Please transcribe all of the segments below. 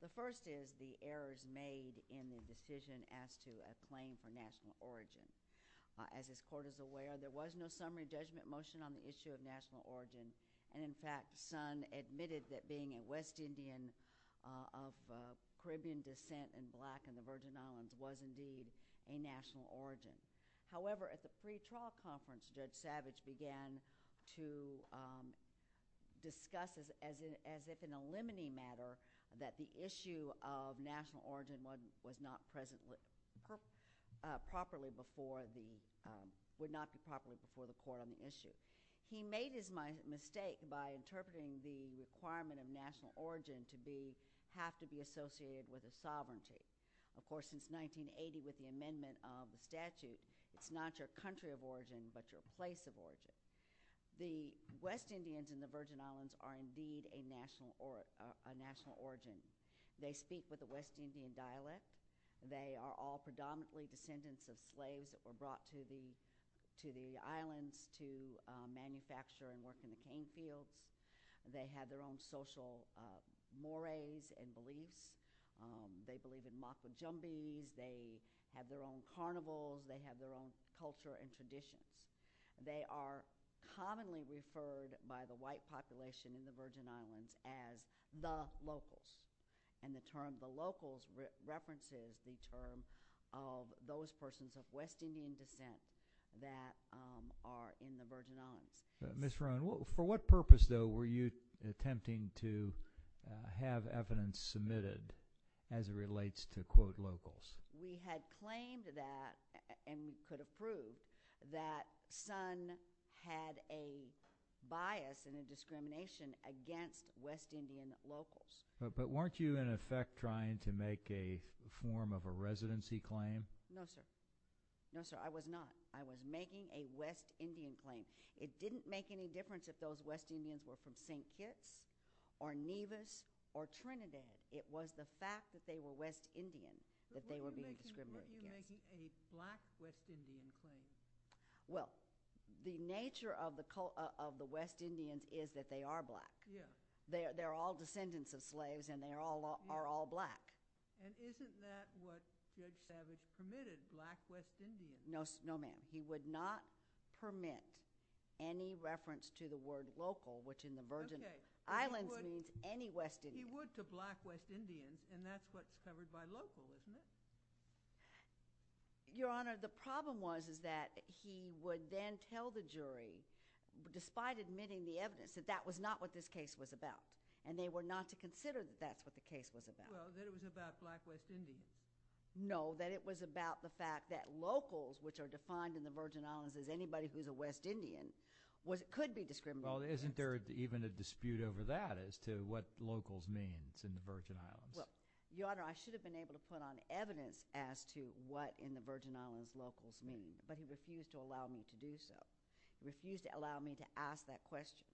The first is the errors made in the decision as to a claim for national origin. As this court is aware, there was no summary judgment motion on the issue of national origin, and in fact, Sun admitted that being a West Indian of Caribbean descent and black in the Virgin Islands was indeed a national origin. However, at the pretrial conference, Judge Savage began to discuss as if in a limiting matter that the issue of national origin was not present properly before the court on the issue. He made his mistake by interpreting the requirement of national origin to have to be associated with a sovereignty. Of course, since 1980 with the amendment of the statute, it's not your country of origin, but your place of origin. The West Indians in the Virgin Islands are indeed a national origin. They speak with a West Indian dialect. They are all predominantly descendants of slaves that were brought to the islands to manufacture and work in the cane fields. They have their own social mores and beliefs. They believe in Maka Jumbies. They have their own carnivals. They have their own culture and traditions. They are commonly referred by the white population in the Virgin Islands as the locals, and the term the locals references the term of those persons of West Indian descent that are in the Virgin Islands. Ms. Roan, for what purpose, though, were you attempting to have evidence submitted as it relates to, quote, locals? We had claimed that and could approve that Sun had a bias and a discrimination against West Indian locals. But weren't you, in effect, trying to make a form of a residency claim? No, sir. No, sir, I was not. I was making a West Indian claim. It didn't make any difference if those West Indians were from St. Kitts or Nevis or Trinidad. It was the fact that they were West Indian that they were being discriminated against. But weren't you making a black West Indian claim? Well, the nature of the West Indians is that they are black. They are all descendants of slaves and they are all black. And isn't that what Judge Savage permitted, black West Indians? No, ma'am. He would not permit any reference to the word local, which in the Virgin Islands means any West Indian. He would to black West Indians, and that's what's covered by local, isn't it? Your Honor, the problem was is that he would then tell the jury, despite admitting the evidence, that that was not what this case was about. And they were not to consider that that's what the case was about. Well, that it was about black West Indians. No, that it was about the fact that locals, which are defined in the Virgin Islands as anybody who's a West Indian, could be discriminated against. Well, isn't there even a dispute over that as to what locals means in the Virgin Islands? Well, Your Honor, I should have been able to put on evidence as to what in the Virgin Islands locals mean, but he refused to allow me to do so. He refused to allow me to ask that question.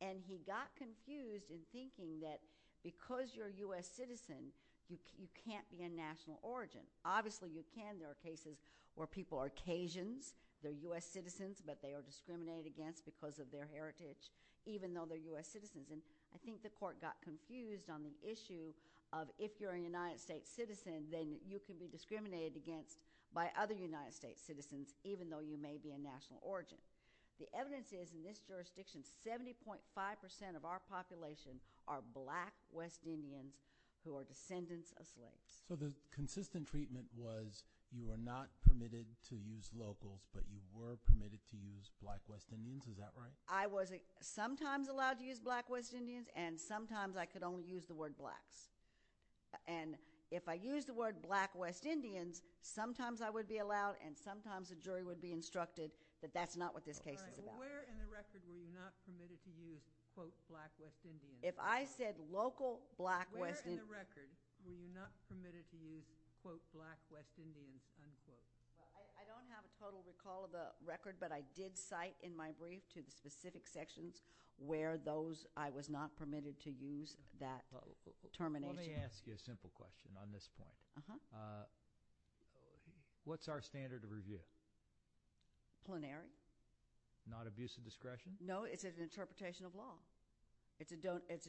And he got confused in thinking that because you're a U.S. citizen, you can't be a national origin. Obviously, you can. There are cases where people are Cajuns, they're U.S. citizens, but they are discriminated against because of their heritage, even though they're U.S. citizens. And I think the court got confused on the issue of if you're a United States citizen, then you can be discriminated against by other United States citizens, even though you may be a national origin. The evidence is in this jurisdiction, 70.5% of our population are black West Indians who are descendants of slaves. So the consistent treatment was you are not permitted to use locals, but you were permitted to use black West Indians. Is that right? I was sometimes allowed to use black West Indians, and sometimes I could only use the word blacks. And if I used the word black West Indians, sometimes I would be allowed and sometimes the jury would be instructed that that's not what this case is about. All right. Well, where in the record were you not permitted to use, quote, black West Indians? If I said local black West Indians Where in the record were you not permitted to use, quote, black West Indians, unquote? I don't have a total recall of the record, but I did cite in my brief to the specific sections where those I was not permitted to use that termination. Let me ask you a simple question on this point. What's our standard of review? Plenary. Not abuse of discretion? No, it's an interpretation of law. It's a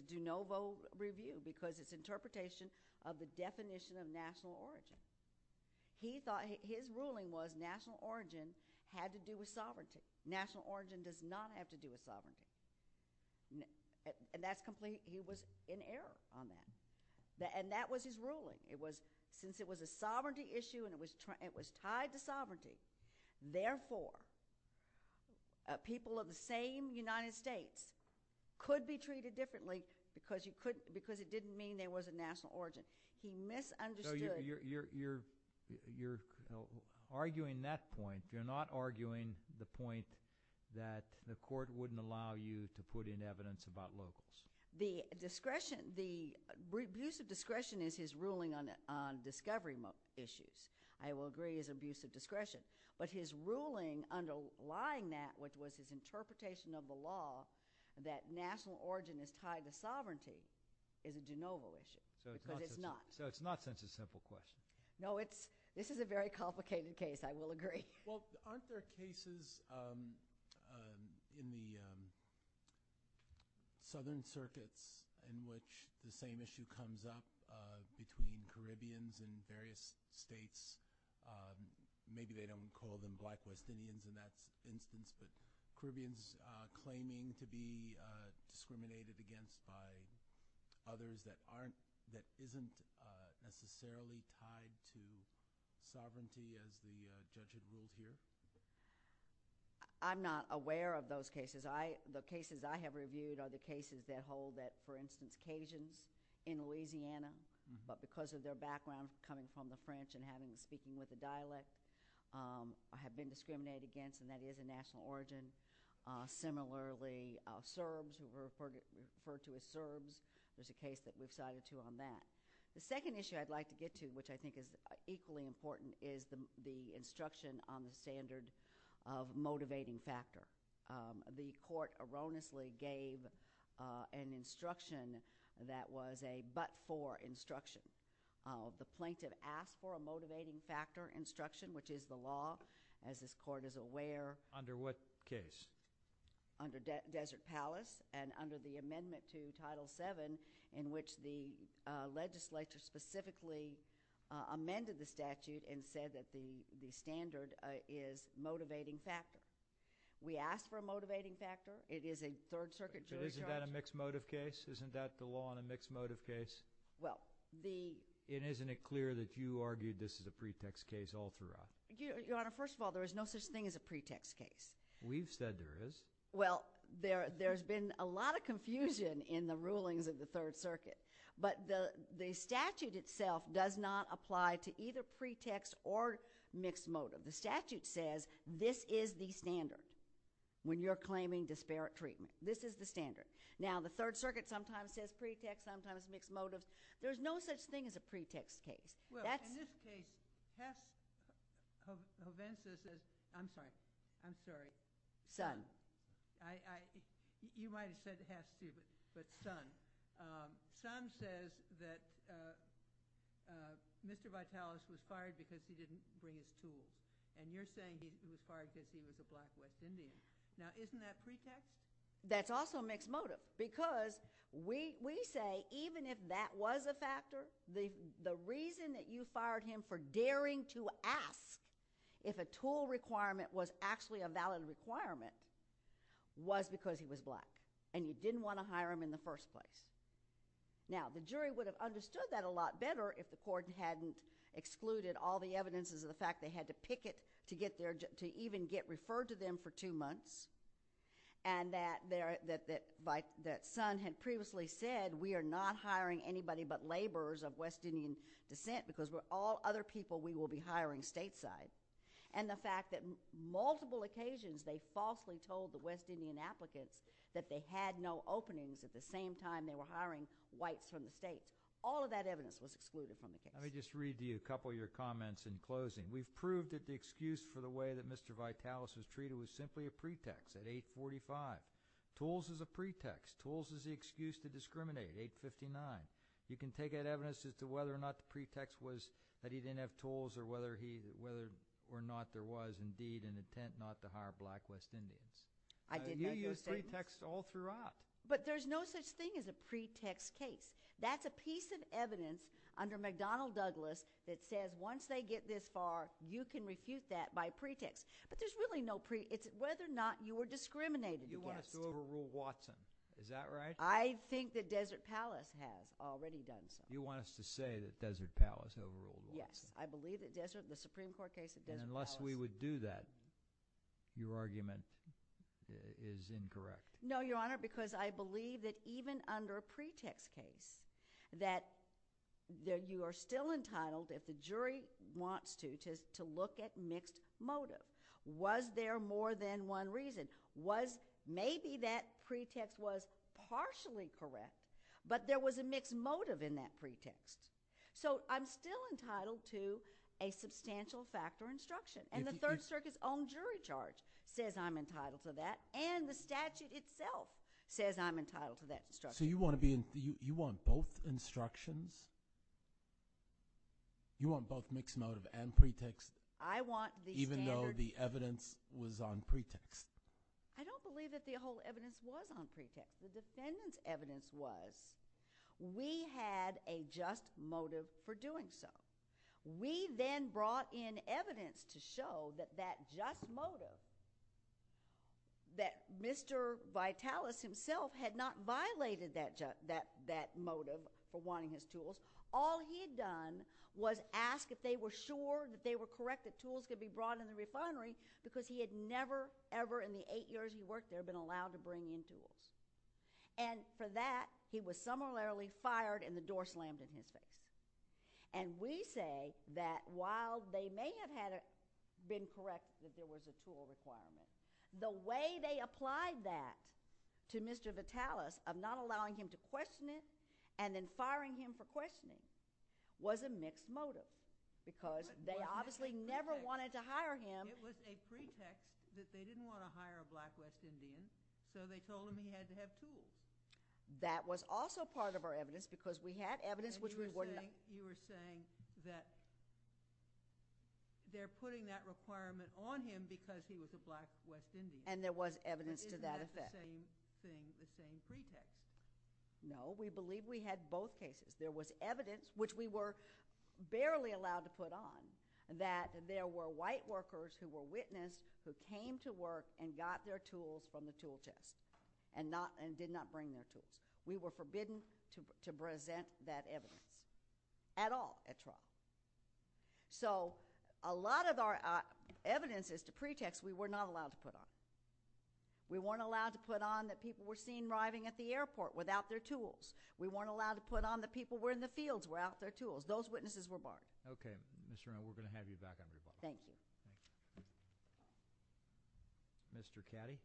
de novo review because it's an interpretation of the definition of national origin. His ruling was national origin had to do with sovereignty. National origin does not have to do with sovereignty. And he was in error on that. And that was his ruling. Since it was a sovereignty issue and it was tied to sovereignty, therefore, people of the same United States could be treated differently because it didn't mean there was a national origin. He misunderstood So you're arguing that point. You're not arguing the point that the court wouldn't allow you to put in evidence about locals. The discretion, the abuse of discretion is his ruling on discovery issues. I will agree it's abuse of discretion. But his ruling underlying that which was his interpretation of the law that national origin is tied to sovereignty is a de novo issue because it's not. So it's not such a simple question. No, it's, this is a very complicated case, I will agree. Well, aren't there cases in the southern circuits in which the same issue comes up between Caribbeans in various states? Maybe they don't call them black West Indians in that instance, but Caribbeans claiming to be discriminated against by others that isn't necessarily tied to sovereignty as the judge had ruled here? I'm not aware of those cases. The cases I have reviewed are the cases that hold that for instance, Cajuns in Louisiana, but because of their background coming from the French and having been speaking with the dialect, have been discriminated against and that is a national origin. Similarly, Serbs who were referred to as Serbs, there's a case that is a national origin. The second issue I'd like to get to, which I think is equally important, is the instruction on the standard of motivating factor. The court erroneously gave an instruction that was a but for instruction. The plaintiff asked for a motivating factor instruction, which is the law, as this court is aware. Under what case? Under Desert Palace and under the amendment to Title VII in which the legislature specifically amended the statute and said that the standard is motivating factor. We asked for a motivating factor. It is a Third Circuit jury charge. But isn't that a mixed motive case? Isn't that the law on a mixed motive case? Well, the And isn't it clear that you argued this is a pretext case all throughout? Your Honor, first of all, there is no such thing as a pretext case. We've said there is. Well, there's been a lot of confusion in the rulings of the Third Circuit, but the statute itself does not apply to either pretext or mixed motive. The statute says this is the standard when you're claiming disparate treatment. This is the standard. Now, the Third Circuit sometimes says pretext, sometimes mixed motives. There's no such thing as a pretext case. Well, in this case, Haas Hovensa says—I'm sorry. I'm sorry. Son. You might have said Haas Stuber, but son. Son says that Mr. Vitalis was fired because he didn't bring his keys. And you're saying he was fired because he was a black, white Indian. Now, isn't that pretext? That's also a mixed motive, because we say even if that was a factor, the reason that you fired him for daring to ask if a tool requirement was actually a valid requirement was because he was black, and you didn't want to hire him in the first place. Now, the jury would have understood that a lot better if the court hadn't excluded all the evidences of the fact they had to picket to even get referred to them for two months, and that son had previously said, we are not hiring anybody but laborers of West Indian descent because with all other people, we will be hiring stateside. And the fact that multiple occasions they falsely told the West Indian applicants that they had no openings at the same time they were hiring whites from the states. All of that evidence was excluded from the case. Let me just read to you a couple of your comments in closing. We've proved that the excuse for the way that Mr. Vitalis was treated was simply a pretext at 845. Tools is a pretext. Tools is the excuse to discriminate at 859. You can take that evidence as to whether or not the pretext was that he didn't have tools or whether or not there was indeed an intent not to hire black West Indians. I did make that statement. You used pretexts all throughout. But there's no such thing as a pretext case. That's a piece of evidence under McDonnell Douglas that says once they get this far, you can refute that by pretext. But there's really no pre, it's whether or not you were discriminated against. You want us to overrule Watson. Is that right? I think that Desert Palace has already done so. You want us to say that Desert Palace overruled Watson. Yes. I believe that Desert, the Supreme Court case that Desert Palace And unless we would do that, your argument is incorrect. No, Your Honor, because I believe that even under a pretext case, that you are still entitled if the jury wants to, to look at mixed motive. Was there more than one reason? Maybe that pretext was partially correct, but there was a mixed motive in that pretext. So I'm still entitled to a substantial fact or instruction. And the Third Circuit's own jury charge says I'm entitled to that. And the statute itself says I'm entitled to that instruction. So you want to be, you want both instructions? You want both mixed motive and pretext? I want the standard Even though the evidence was on pretext? I don't believe that the whole evidence was on pretext. The defendant's evidence was. We had a just motive for doing so. We then brought in evidence to show that that just motive, that Mr. Vitalis himself had not violated that, that motive for wanting his tools. All he had done was ask if they were sure that they were correct that tools could be brought in the refinery because he had never, ever in the eight years he worked there been allowed to bring in tools. And for that, he was summarily fired and the door slammed in his face. And we say that while they may have been correct that there was a tool requirement, the way they applied that to Mr. Vitalis of not allowing him to question it and then firing him for questioning was a mixed motive because they obviously never wanted to hire him. It was a pretext that they didn't want to hire a black West Indian so they told him he had to have tools. That was also part of our evidence because we had evidence which we wouldn't... And you were saying that they're putting that requirement on him because he was a black West Indian. And there was evidence to that effect. Isn't that the same thing, the same pretext? No, we believe we had both cases. There was evidence, which we were barely allowed to put on, that there were white workers who were witnessed who came to work and got their tools. We were forbidden to present that evidence at all at trial. So a lot of our evidence is to pretext we were not allowed to put on. We weren't allowed to put on that people were seen arriving at the airport without their tools. We weren't allowed to put on that people were in the fields without their tools. Those witnesses were barred. Okay. Ms. Renauld, we're going to have you back on the call. Thank you. Mr. Caddy.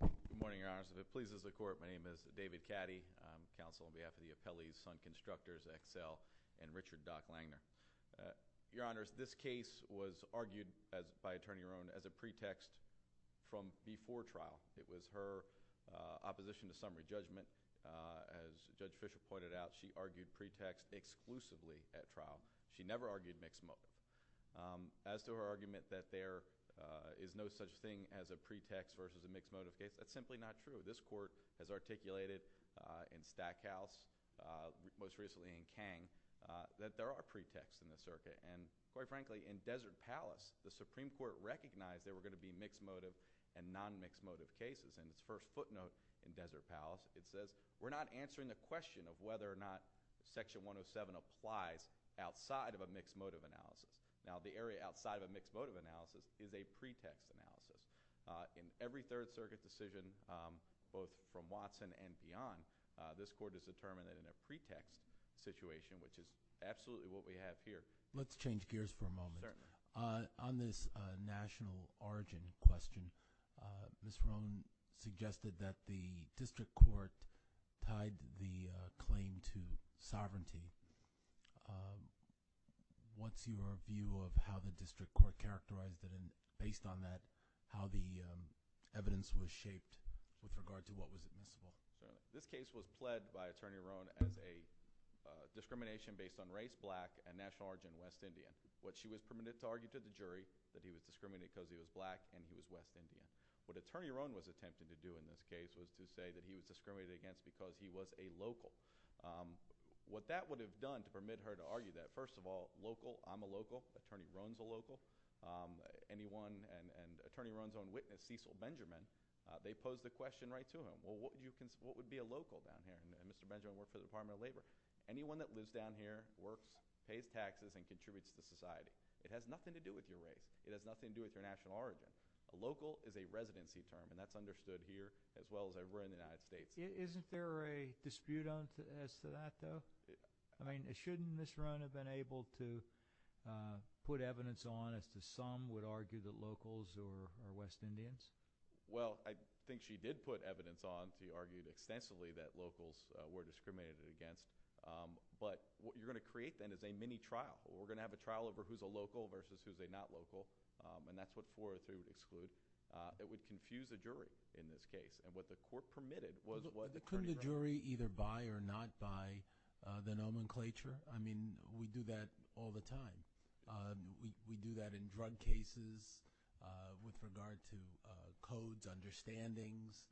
Good morning, Your Honors. If it pleases the Court, my name is David Caddy. I'm counsel on behalf of the Appellee's Son Constructors XL and Richard Dock Langner. Your Honors, this case was argued by Attorney Rone as a pretext from before trial. It was her opposition to summary judgment. As Judge Fischer pointed out, she argued pretext exclusively at trial. She never argued mixed motive. As to her argument that there is no such thing as a pretext versus a mixed motive case, that's simply not true. This Court has articulated in Stackhouse, most recently in Kang, that there are pretexts in the circuit. And quite frankly, in Desert Palace, the Supreme Court recognized there were going to be mixed motive and non-mixed motive cases. And its first footnote in Desert Palace, it says, we're not answering the question of whether or not there are pretexts. Now, the area outside of a mixed motive analysis is a pretext analysis. In every Third Circuit decision, both from Watson and beyond, this Court has determined in a pretext situation, which is absolutely what we have here. Let's change gears for a moment. Certainly. On this national origin question, Ms. Rone suggested that the District Court tied the issue of how the District Court characterized it, and based on that, how the evidence was shaped with regard to what was admissible. This case was pled by Attorney Rone as a discrimination based on race, black, and national origin, West Indian. She was permitted to argue to the jury that he was discriminated because he was black and he was West Indian. What Attorney Rone was attempting to do in this case was to say that he was discriminated against because he was a local. What that would have done to permit her to argue that, first of all, local, I'm a local, Attorney Rone's a local, anyone, and Attorney Rone's own witness, Cecil Benjamin, they posed the question right to him, well, what would be a local down here? And Mr. Benjamin worked for the Department of Labor. Anyone that lives down here works, pays taxes, and contributes to society. It has nothing to do with your race. It has nothing to do with your national origin. A local is a residency term, and that's understood here as well as everywhere in the United States. Isn't there a dispute as to that, though? I mean, shouldn't Ms. Rone have been able to put evidence on as to some would argue that locals are West Indians? Well, I think she did put evidence on to argue extensively that locals were discriminated against, but what you're going to create, then, is a mini trial. We're going to have a trial over who's a local versus who's a not local, and that's what for or through that would confuse the jury in this case. And what the court permitted was the Couldn't the jury either buy or not buy the nomenclature? I mean, we do that all the time. We do that in drug cases with regard to codes, understandings.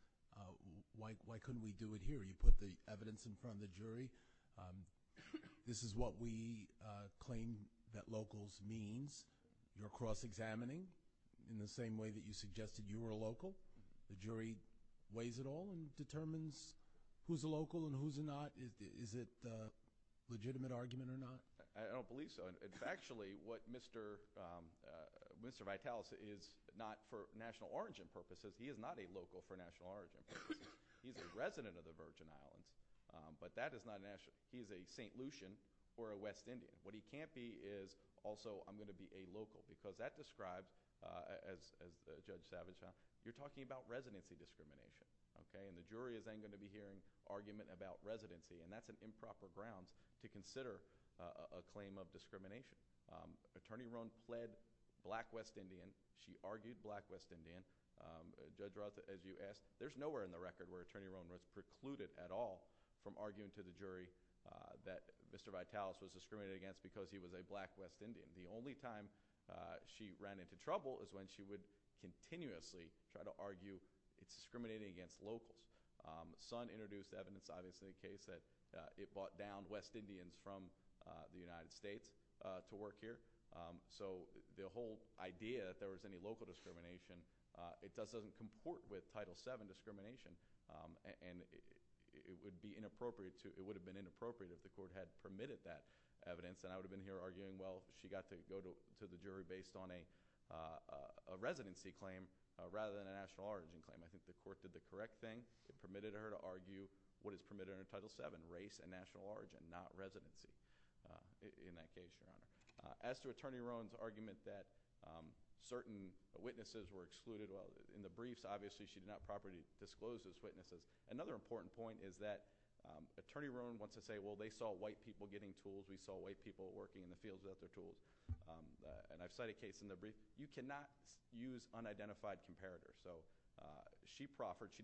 Why couldn't we do it here? You put the evidence in front of the jury. This is what we claim that locals means. You're cross-examining in the same way that you suggested you were a local. The jury weighs it all and determines who's a local and who's a not. Is it a legitimate argument or not? I don't believe so. Actually, what Mr. Vitalis is not for national origin purposes, he is not a local for national origin purposes. He's a resident of the Virgin Islands, but that is not national. He's a St. Lucian or a West Indian. What he can't be is also I'm going to be a local, because that describes, as Judge Savage talked, you're talking about residency discrimination. And the jury is then going to be hearing argument about residency, and that's an improper grounds to consider a claim of discrimination. Attorney Rohn fled Black West Indian. She argued Black West Indian. Judge Roth, as you asked, there's nowhere in the record where Attorney Rohn was precluded at all from arguing to the jury that Mr. Vitalis was discriminated against because he was a Black West Indian. The only time she ran into trouble is when she would continuously try to argue it's discriminating against locals. Sun introduced evidence, obviously, in the case that it brought down West Indians from the United States to work here. So the whole idea that there was any local discrimination, it doesn't comport with Title VII discrimination, and it would have been inappropriate if the court had permitted that evidence. And I would have been here arguing, well, she got to go to the jury based on a residency claim rather than a national origin claim. I think the court did the correct thing. It permitted her to argue what is permitted under Title VII, race and national origin, not residency in that case. As to Attorney Rohn's argument that certain witnesses were excluded, well, in the briefs obviously she did not properly disclose those witnesses. Another important point is that Attorney Rohn wants to say, well, they saw white people getting tools. We saw white people working in the fields of the tools. And I've cited a case in the brief, you cannot use unidentified comparators. So she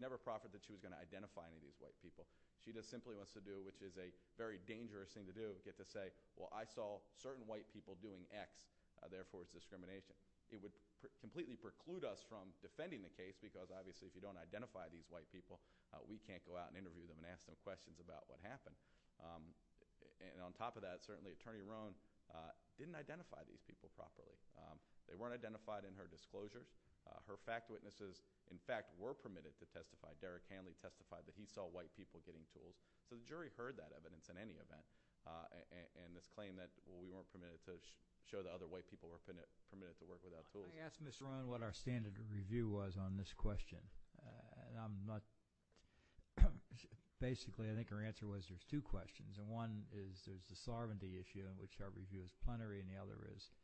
never proffered that she was going to identify any of these white people. She just simply wants to do, which is a very dangerous thing to do, get to the point where I saw certain white people doing X, therefore it's discrimination. It would completely preclude us from defending the case because obviously if you don't identify these white people, we can't go out and interview them and ask them questions about what happened. And on top of that, certainly Attorney Rohn didn't identify these people properly. They weren't identified in her disclosure. Her fact witnesses, in fact, were permitted to testify. Derek Hanley testified that he saw white people getting tools. So the jury heard that evidence in any event. And this claim that we weren't permitted to show that other white people were permitted to work without tools. I asked Ms. Rohn what our standard review was on this question. Basically, I think her answer was there's two questions. And one is there's the sovereignty issue, in which our review is punnery, and the other is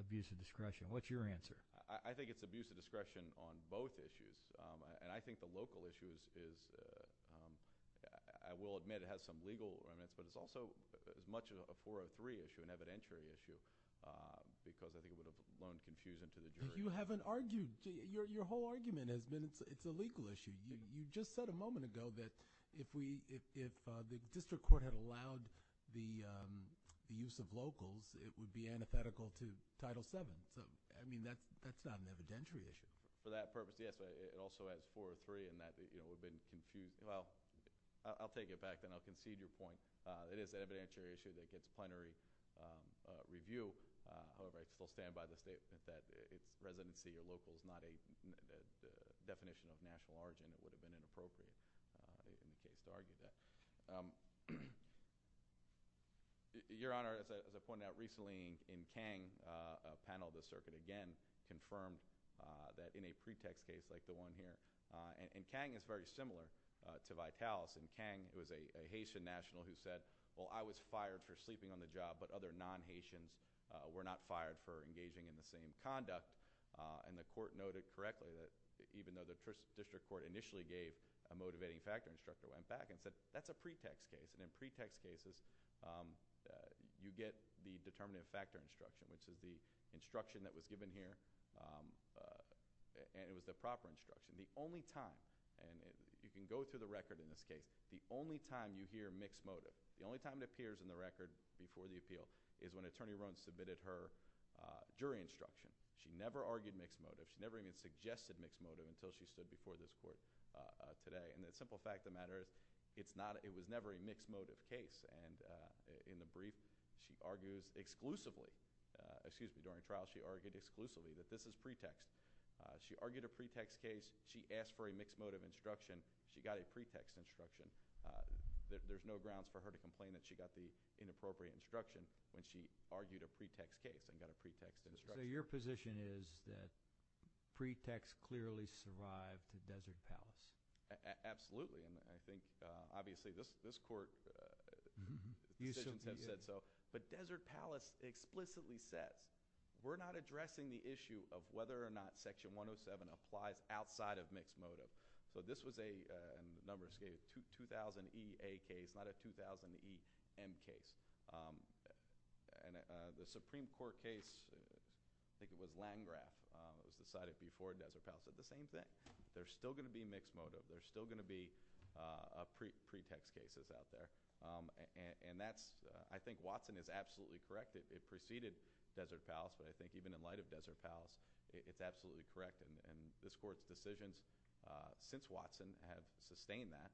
abuse of discretion. What's your answer? I think it's abuse of discretion on both issues. And I think the local issue is, I will admit it has some legal on it, but it's also as much of a 403 issue, an evidentiary issue, because I think it would have blown some shoes into the jury. You haven't argued. Your whole argument has been it's a legal issue. You just said a moment ago that if the district court had allowed the use of locals, it would be antithetical to Title VII. I mean, that's not an evidentiary issue. For that purpose, yes, it also has 403, and that would have been, well, I'll take it back, and I'll concede your point. It is an evidentiary issue that gets punnery review. However, I still stand by the statement that it's residency or local is not a definition of national argument. It would have been inappropriate to argue that. Your Honor, as I pointed out recently in Kang, a panel of the circuit again confirmed that in a pretext case like the one here, and Kang is very similar to Vitalis, and Kang was a Haitian national who said, well, I was fired for sleeping on the job, but other non-Haitians were not fired for engaging in the same conduct. And the court noted correctly that even though the district court initially gave a motivating factor instruction, went back and said, that's a pretext case, and in pretext cases, you get the determinative factor instruction, which is the instruction that was given here, and it was the proper instruction. The only time, and you can go through the record in this case, the only time you hear mixed motive, the only time it appears in the record before the appeal, is when Attorney Roans submitted her jury instruction. She never argued mixed motive. She never even suggested mixed motive until she stood before this court today, and the simple fact of the matter, it's not, it was never a mixed motive case, and in the brief, she argues exclusively, excuse me, during trial, she argued exclusively that this is pretext. She argued a pretext case. She asked for a mixed motive instruction. She got a pretext instruction. There's no grounds for her to complain that she got the inappropriate instruction when she argued a pretext case and got a pretext instruction. So your position is that pretext clearly survived the Desert Palace? Absolutely, and I think, obviously, this Court, you should have said so, but Desert Palace explicitly says, we're not addressing the issue of whether or not Section 107 applies outside of mixed motive. So this was a, in the numbers case, 2000E-A case, not a 2000E-M case, and the Supreme Court case, I think it was Landgraf, was decided before Desert Palace, but the same thing. There's still going to be mixed motive. There's still going to be pretext cases out there, and that's, I think Watson is absolutely correct. It preceded Desert Palace, but I think even in light of Desert Palace, it's absolutely correct, and this Court's decisions since Watson have sustained that.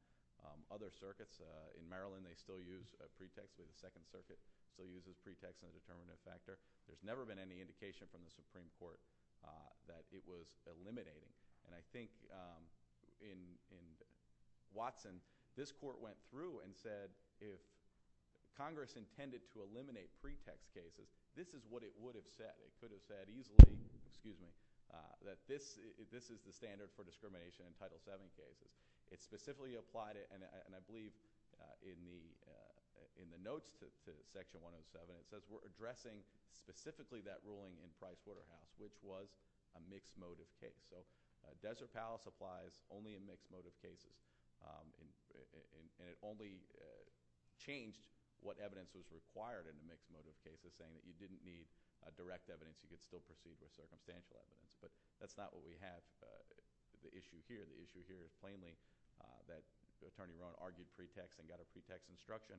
Other circuits, in Maryland, they still use a pretext in the Second Circuit. They still use the pretext as a determinant factor. There's never been any indication from the Supreme Court that it was eliminating, and I think in Watson, this Court went through and said, if Congress intended to eliminate pretext cases, this is what it would have said. It could have said easily, excuse me, that this is the standard for discrimination in Title VII cases. It specifically applied and I believe in the notes to Section 107, it says we're addressing specifically that ruling in Price-Waterhouse, which was a mixed motive case. So Desert Palace applies only in mixed motive cases, and it only changed what evidence was required in the mixed motive cases, saying that you didn't need direct evidence. You could still proceed with circumstantial evidence, but that's not what we have the issue here. The issue here is plainly that Attorney Rohn argued pretext and got a pretext instruction.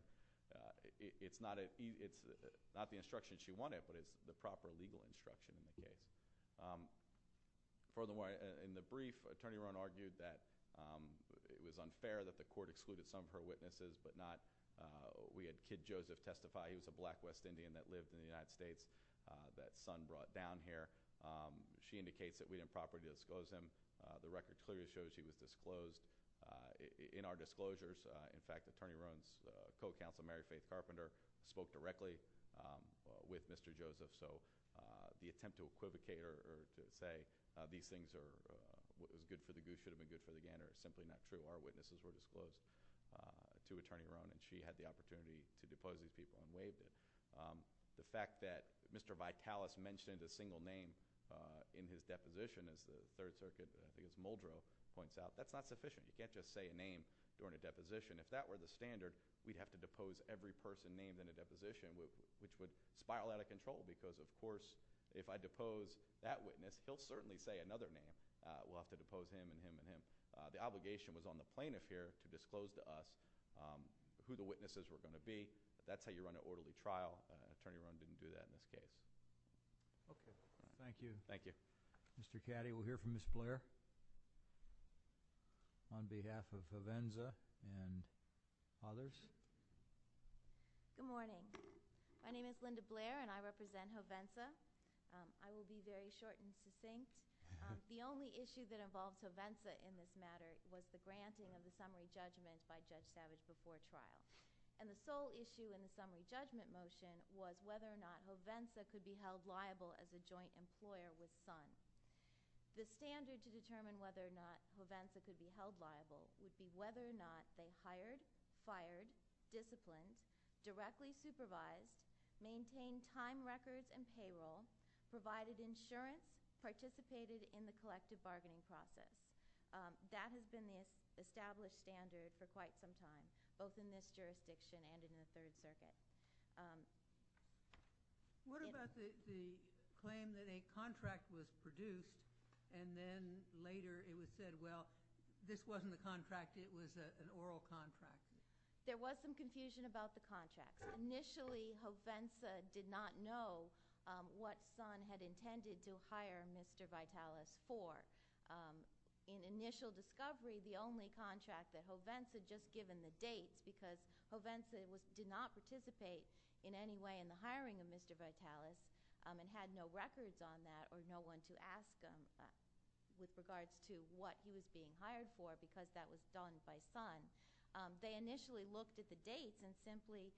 It's not the instruction she wanted, but it's the proper legal instruction in the case. Furthermore, in the brief, Attorney Rohn argued that it was unfair that the Court excluded some of her witnesses, but we had Kid Joseph testify. He was a black West Indian that lived in the United States. That son brought down here. She indicates that we didn't properly disclose him. The record clearly shows he was disclosed. In our disclosures, in fact, Attorney Rohn's co-counsel, Mary Faith Carpenter, spoke directly with Mr. Joseph. So the attempt to equivocate or to say these things are good for the good should have been good for the gander is simply not true. Our witnesses were disclosed to Attorney Rohn, and she had the fact that Mr. Vitalis mentioned a single name in his deposition, as the Third Circuit against Muldrow points out. That's not sufficient. You can't just say a name during a deposition. If that were the standard, we'd have to depose every person named in a deposition. It would spiral out of control because, of course, if I depose that witness, he'll certainly say another name. We'll have to depose him and him and him. The obligation was on the plaintiff here to disclose to us who the witnesses were going to be. That's how you run an individual trial. Attorney Rohn didn't do that in this case. Thank you. Mr. Caddy, we'll hear from Ms. Blair on behalf of Hovenza and others. Good morning. My name is Linda Blair, and I represent Hovenza. I will be very short and succinct. The only issue that involves Hovenza in this matter was the granting of the summary judgment motion was whether or not Hovenza could be held liable as a joint employer with Sons. The standard to determine whether or not Hovenza could be held liable would be whether or not they hired, fired, disciplined, directly supervised, maintained time records and payroll, provided insurance, participated in the collective bargaining process. That has been the established standard for quite some time, both in this jurisdiction and in the Third Circuit. What about the claim that a contract was produced and then later it was said, well, this wasn't a contract, it was an oral contract? There was some confusion about the contract. Initially, Hovenza did not know what Sons had intended to hire Mr. Vitalis for. In initial discovery, the only contract that Hovenza had just given the date because Hovenza did not participate in any way in the hiring of Mr. Vitalis and had no records on that or no one to ask them with regards to what he was being hired for because that was done by Sons. They initially looked at the dates and simply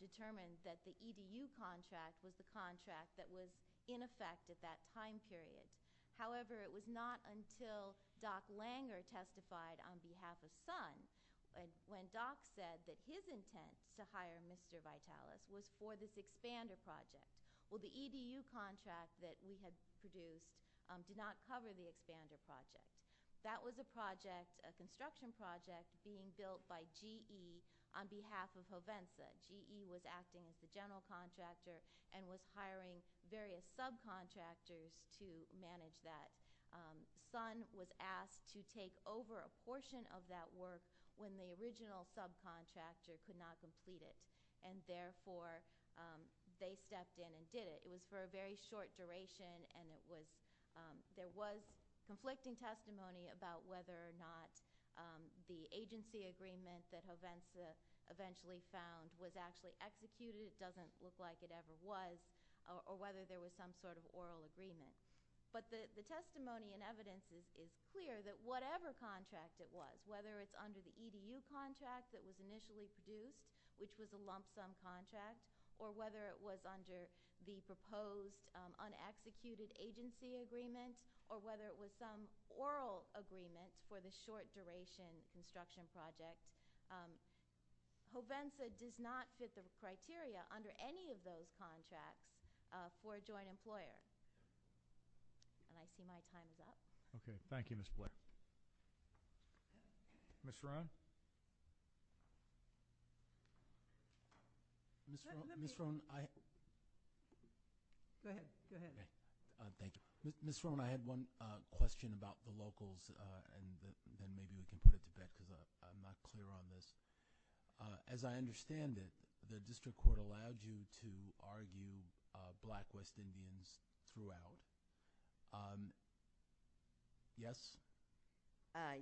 determined that the EBU contract was the contract that was in effect at that time period. However, it was not until Doc Langer testified on behalf of Sons when Doc said that his intent to hire Mr. Vitalis was for this expander project. Well, the EBU contract that we had produced did not cover the expander project. That was a construction project being built by GE on behalf of Hovenza. GE was acting as the general contractor and was hiring various subcontractors to manage that. Sons was asked to take over a portion of that work when the original subcontractor could not complete it. Therefore, they stepped in and did it. It was for a very short duration. There was conflicting testimony about whether or not the agency agreement that Hovenza eventually found was actually executed. It doesn't look like it ever was, or whether there was some sort of oral agreement. But the testimony and evidence is clear that whatever contract it was, whether it's under the EBU contract that was initially produced, which was a lump sum contract, or whether it was under the proposed unexecuted agency agreement, or whether it was some oral agreement for the short duration construction project, Hovenza does not fit the criteria under any of those contracts for a joint employer. And I see my time is up. Okay. Thank you, Ms. Black. Ms. Rohn? Ms. Rohn, I— Go ahead. Go ahead. Thank you. Ms. Rohn, I had one question about the locals and then maybe we can put it to you on this. As I understand it, the district court allowed you to argue Black West Indians throughout. Yes? I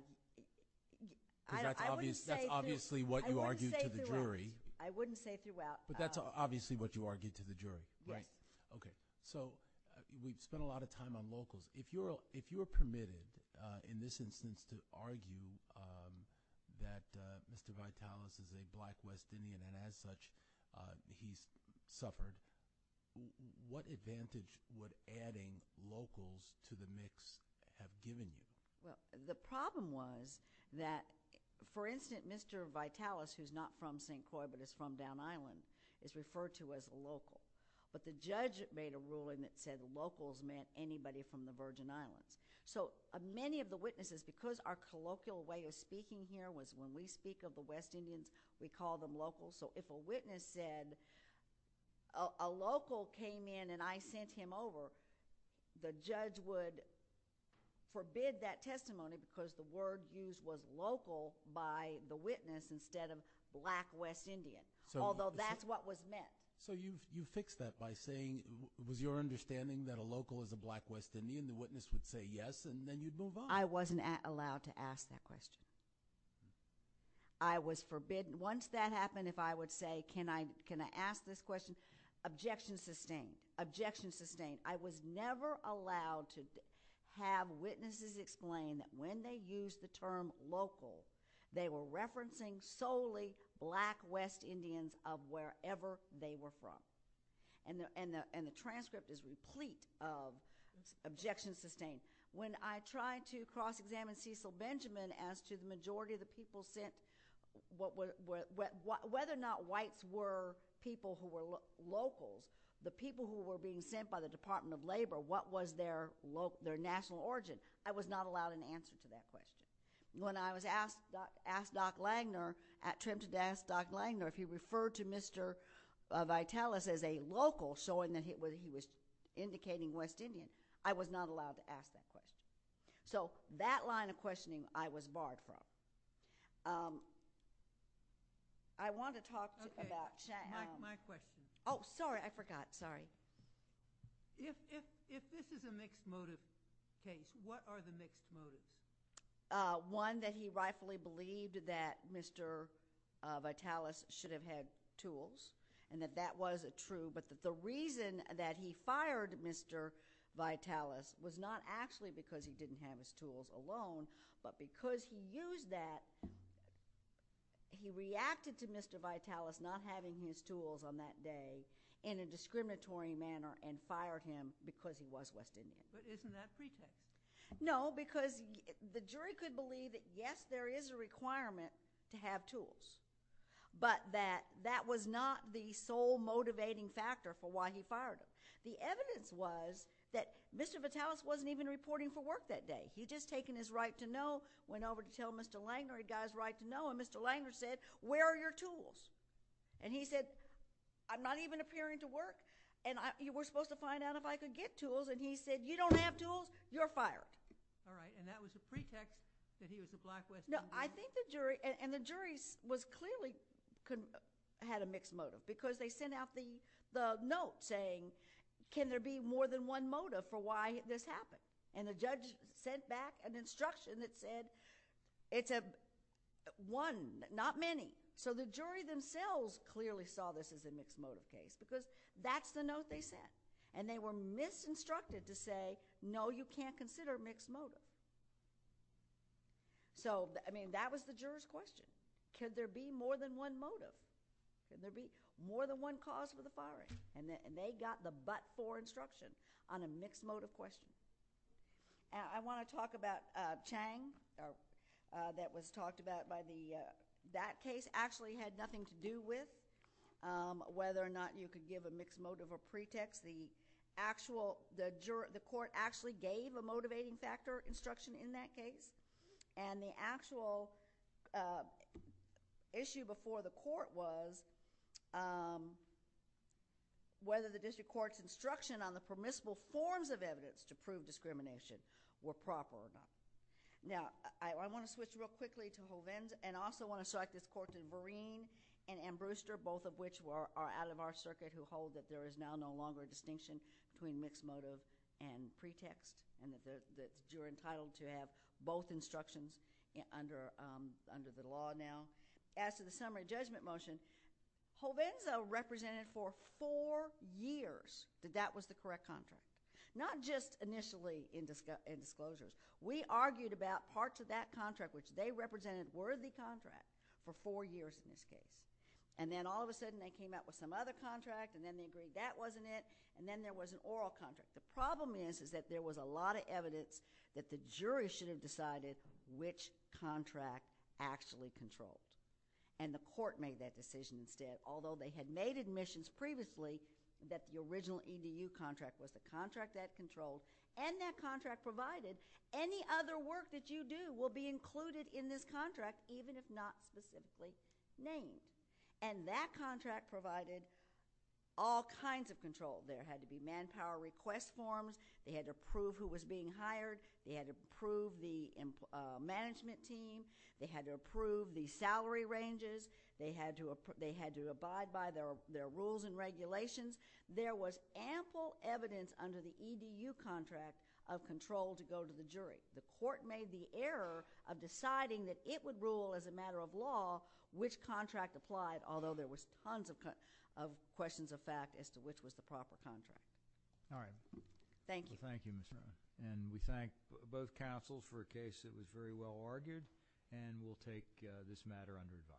wouldn't say throughout. Because that's obviously what you argued to the jury. I wouldn't say throughout. But that's obviously what you argued to the jury. Yes. Right. Okay. So we've spent a lot of time on locals. If you're permitted, in this instance, to argue that Mr. Vitalis is a Black West Indian and, as such, he's suffered, what advantage would adding locals to the mix have given you? Well, the problem was that, for instance, Mr. Vitalis, who's not from St. Croix but is from Down Island, is referred to as a local. But the judge made a ruling that said locals meant anybody from the Virgin Islands. So many of the witnesses, because our colloquial way of speaking here was when we speak of the West Indians, we call them locals. So if a witness said, a local came in and I sent him over, the judge would forbid that testimony because the word used was local by the witness instead of Black West Indian, although that's what was meant. So you fixed that by saying it was your understanding that a local is a Black West Indian. The witness would say yes, and then you'd move on. I wasn't allowed to ask that question. I was forbidden. Once that happened, if I would say, can I ask this question? Objection sustained. Objection sustained. I was never allowed to have witnesses explain that when they used the term local, they were referencing solely Black West Indians of wherever they were from. And the transcript is replete of objections sustained. When I tried to cross-examine Cecil Benjamin as to the majority of the people sent, whether or not whites were people who were locals, the people who were being sent by the Department of Labor, what was their national origin, I was not allowed an answer to that question. When I was asked, asked Doc Langner, at Trimpton to ask Doc Langner if he referred to Mr. Vitalis as a local, showing that he was indicating West Indian, I was not allowed to ask that question. So that line of questioning I was barred from. I want to talk about... Okay, my question. Oh, sorry, I forgot. Sorry. If this is a mixed motive case, what are the mixed motives? One, that he rightfully believed that Mr. Vitalis should have had tools, and that that was true, but that the reason that he fired Mr. Vitalis was not actually because he didn't have his tools alone, but because he used that, he reacted to Mr. Vitalis not having his tools on that day in a discriminatory manner and fired him because he was West Indian. But isn't that pretext? No, because the jury could believe that, yes, there is a requirement to have tools, but that that was not the sole motivating factor for why he fired him. The evidence was that Mr. Vitalis wasn't even reporting for work that day. He'd just taken his right to know, went over to tell Mr. Langner he got his right to know, and Mr. Langner said, where are your tools? And he said, I'm not even appearing to work, and you were supposed to find out if I could get tools, and he said, you don't have tools, you're fired. All right, and that was the pretext that he was a black West Indian. No, I think the jury, and the jury clearly had a mixed motive because they sent out the note saying, can there be more than one motive for why this happened? And the judge sent back an instruction that said, it's a one, not many. So the jury themselves clearly saw this as a mixed motive case because that's the note they sent, and they were misinstructed to say, no, you can't consider mixed motive. So, I mean, that was the juror's question. Could there be more than one motive? Could there be more than one cause for the firing? And they got the but for instruction on a mixed motive question. I want to talk about Chang that was talked about by the, that case actually had nothing to do with whether or not you could give a mixed motive or pretext. The actual, the court actually gave a motivating factor instruction in that case, and the actual issue before the court was whether the district court's instruction on the permissible forms of evidence to prove discrimination were proper or not. Now, I want to switch real quickly to Hovind, and also want to strike this court to Vereen and Ambruster, both of which are out of our circuit who hold that there is now no longer a distinction between mixed motive and pretext, and that you're entitled to have both instructions under the law now. As to the summary judgment motion, Hovind represented for four years that that was the correct contract, not just initially in disclosure. We argued about parts of that contract which they represented worthy contract for four years in this case, and then all of a sudden they came out with some other contract, and then they agreed that wasn't it, and then there was an oral contract. The problem is, is that there was a lot of evidence that the court made that decision instead, although they had made admissions previously that the original EDU contract was the contract that controlled, and that contract provided any other work that you do will be included in this contract, even if not specifically named. And that contract provided all kinds of control. There had to be manpower request forms. They had to prove who was being hired. They had to prove the management team. They had to approve jury ranges. They had to abide by their rules and regulations. There was ample evidence under the EDU contract of control to go to the jury. The court made the error of deciding that it would rule as a matter of law which contract applied, although there was tons of questions of fact as to which was the proper contract. All right. Thank you. Well, thank you, Ms. Miller. And we thank both counsels for a case that was very well reviewed by us.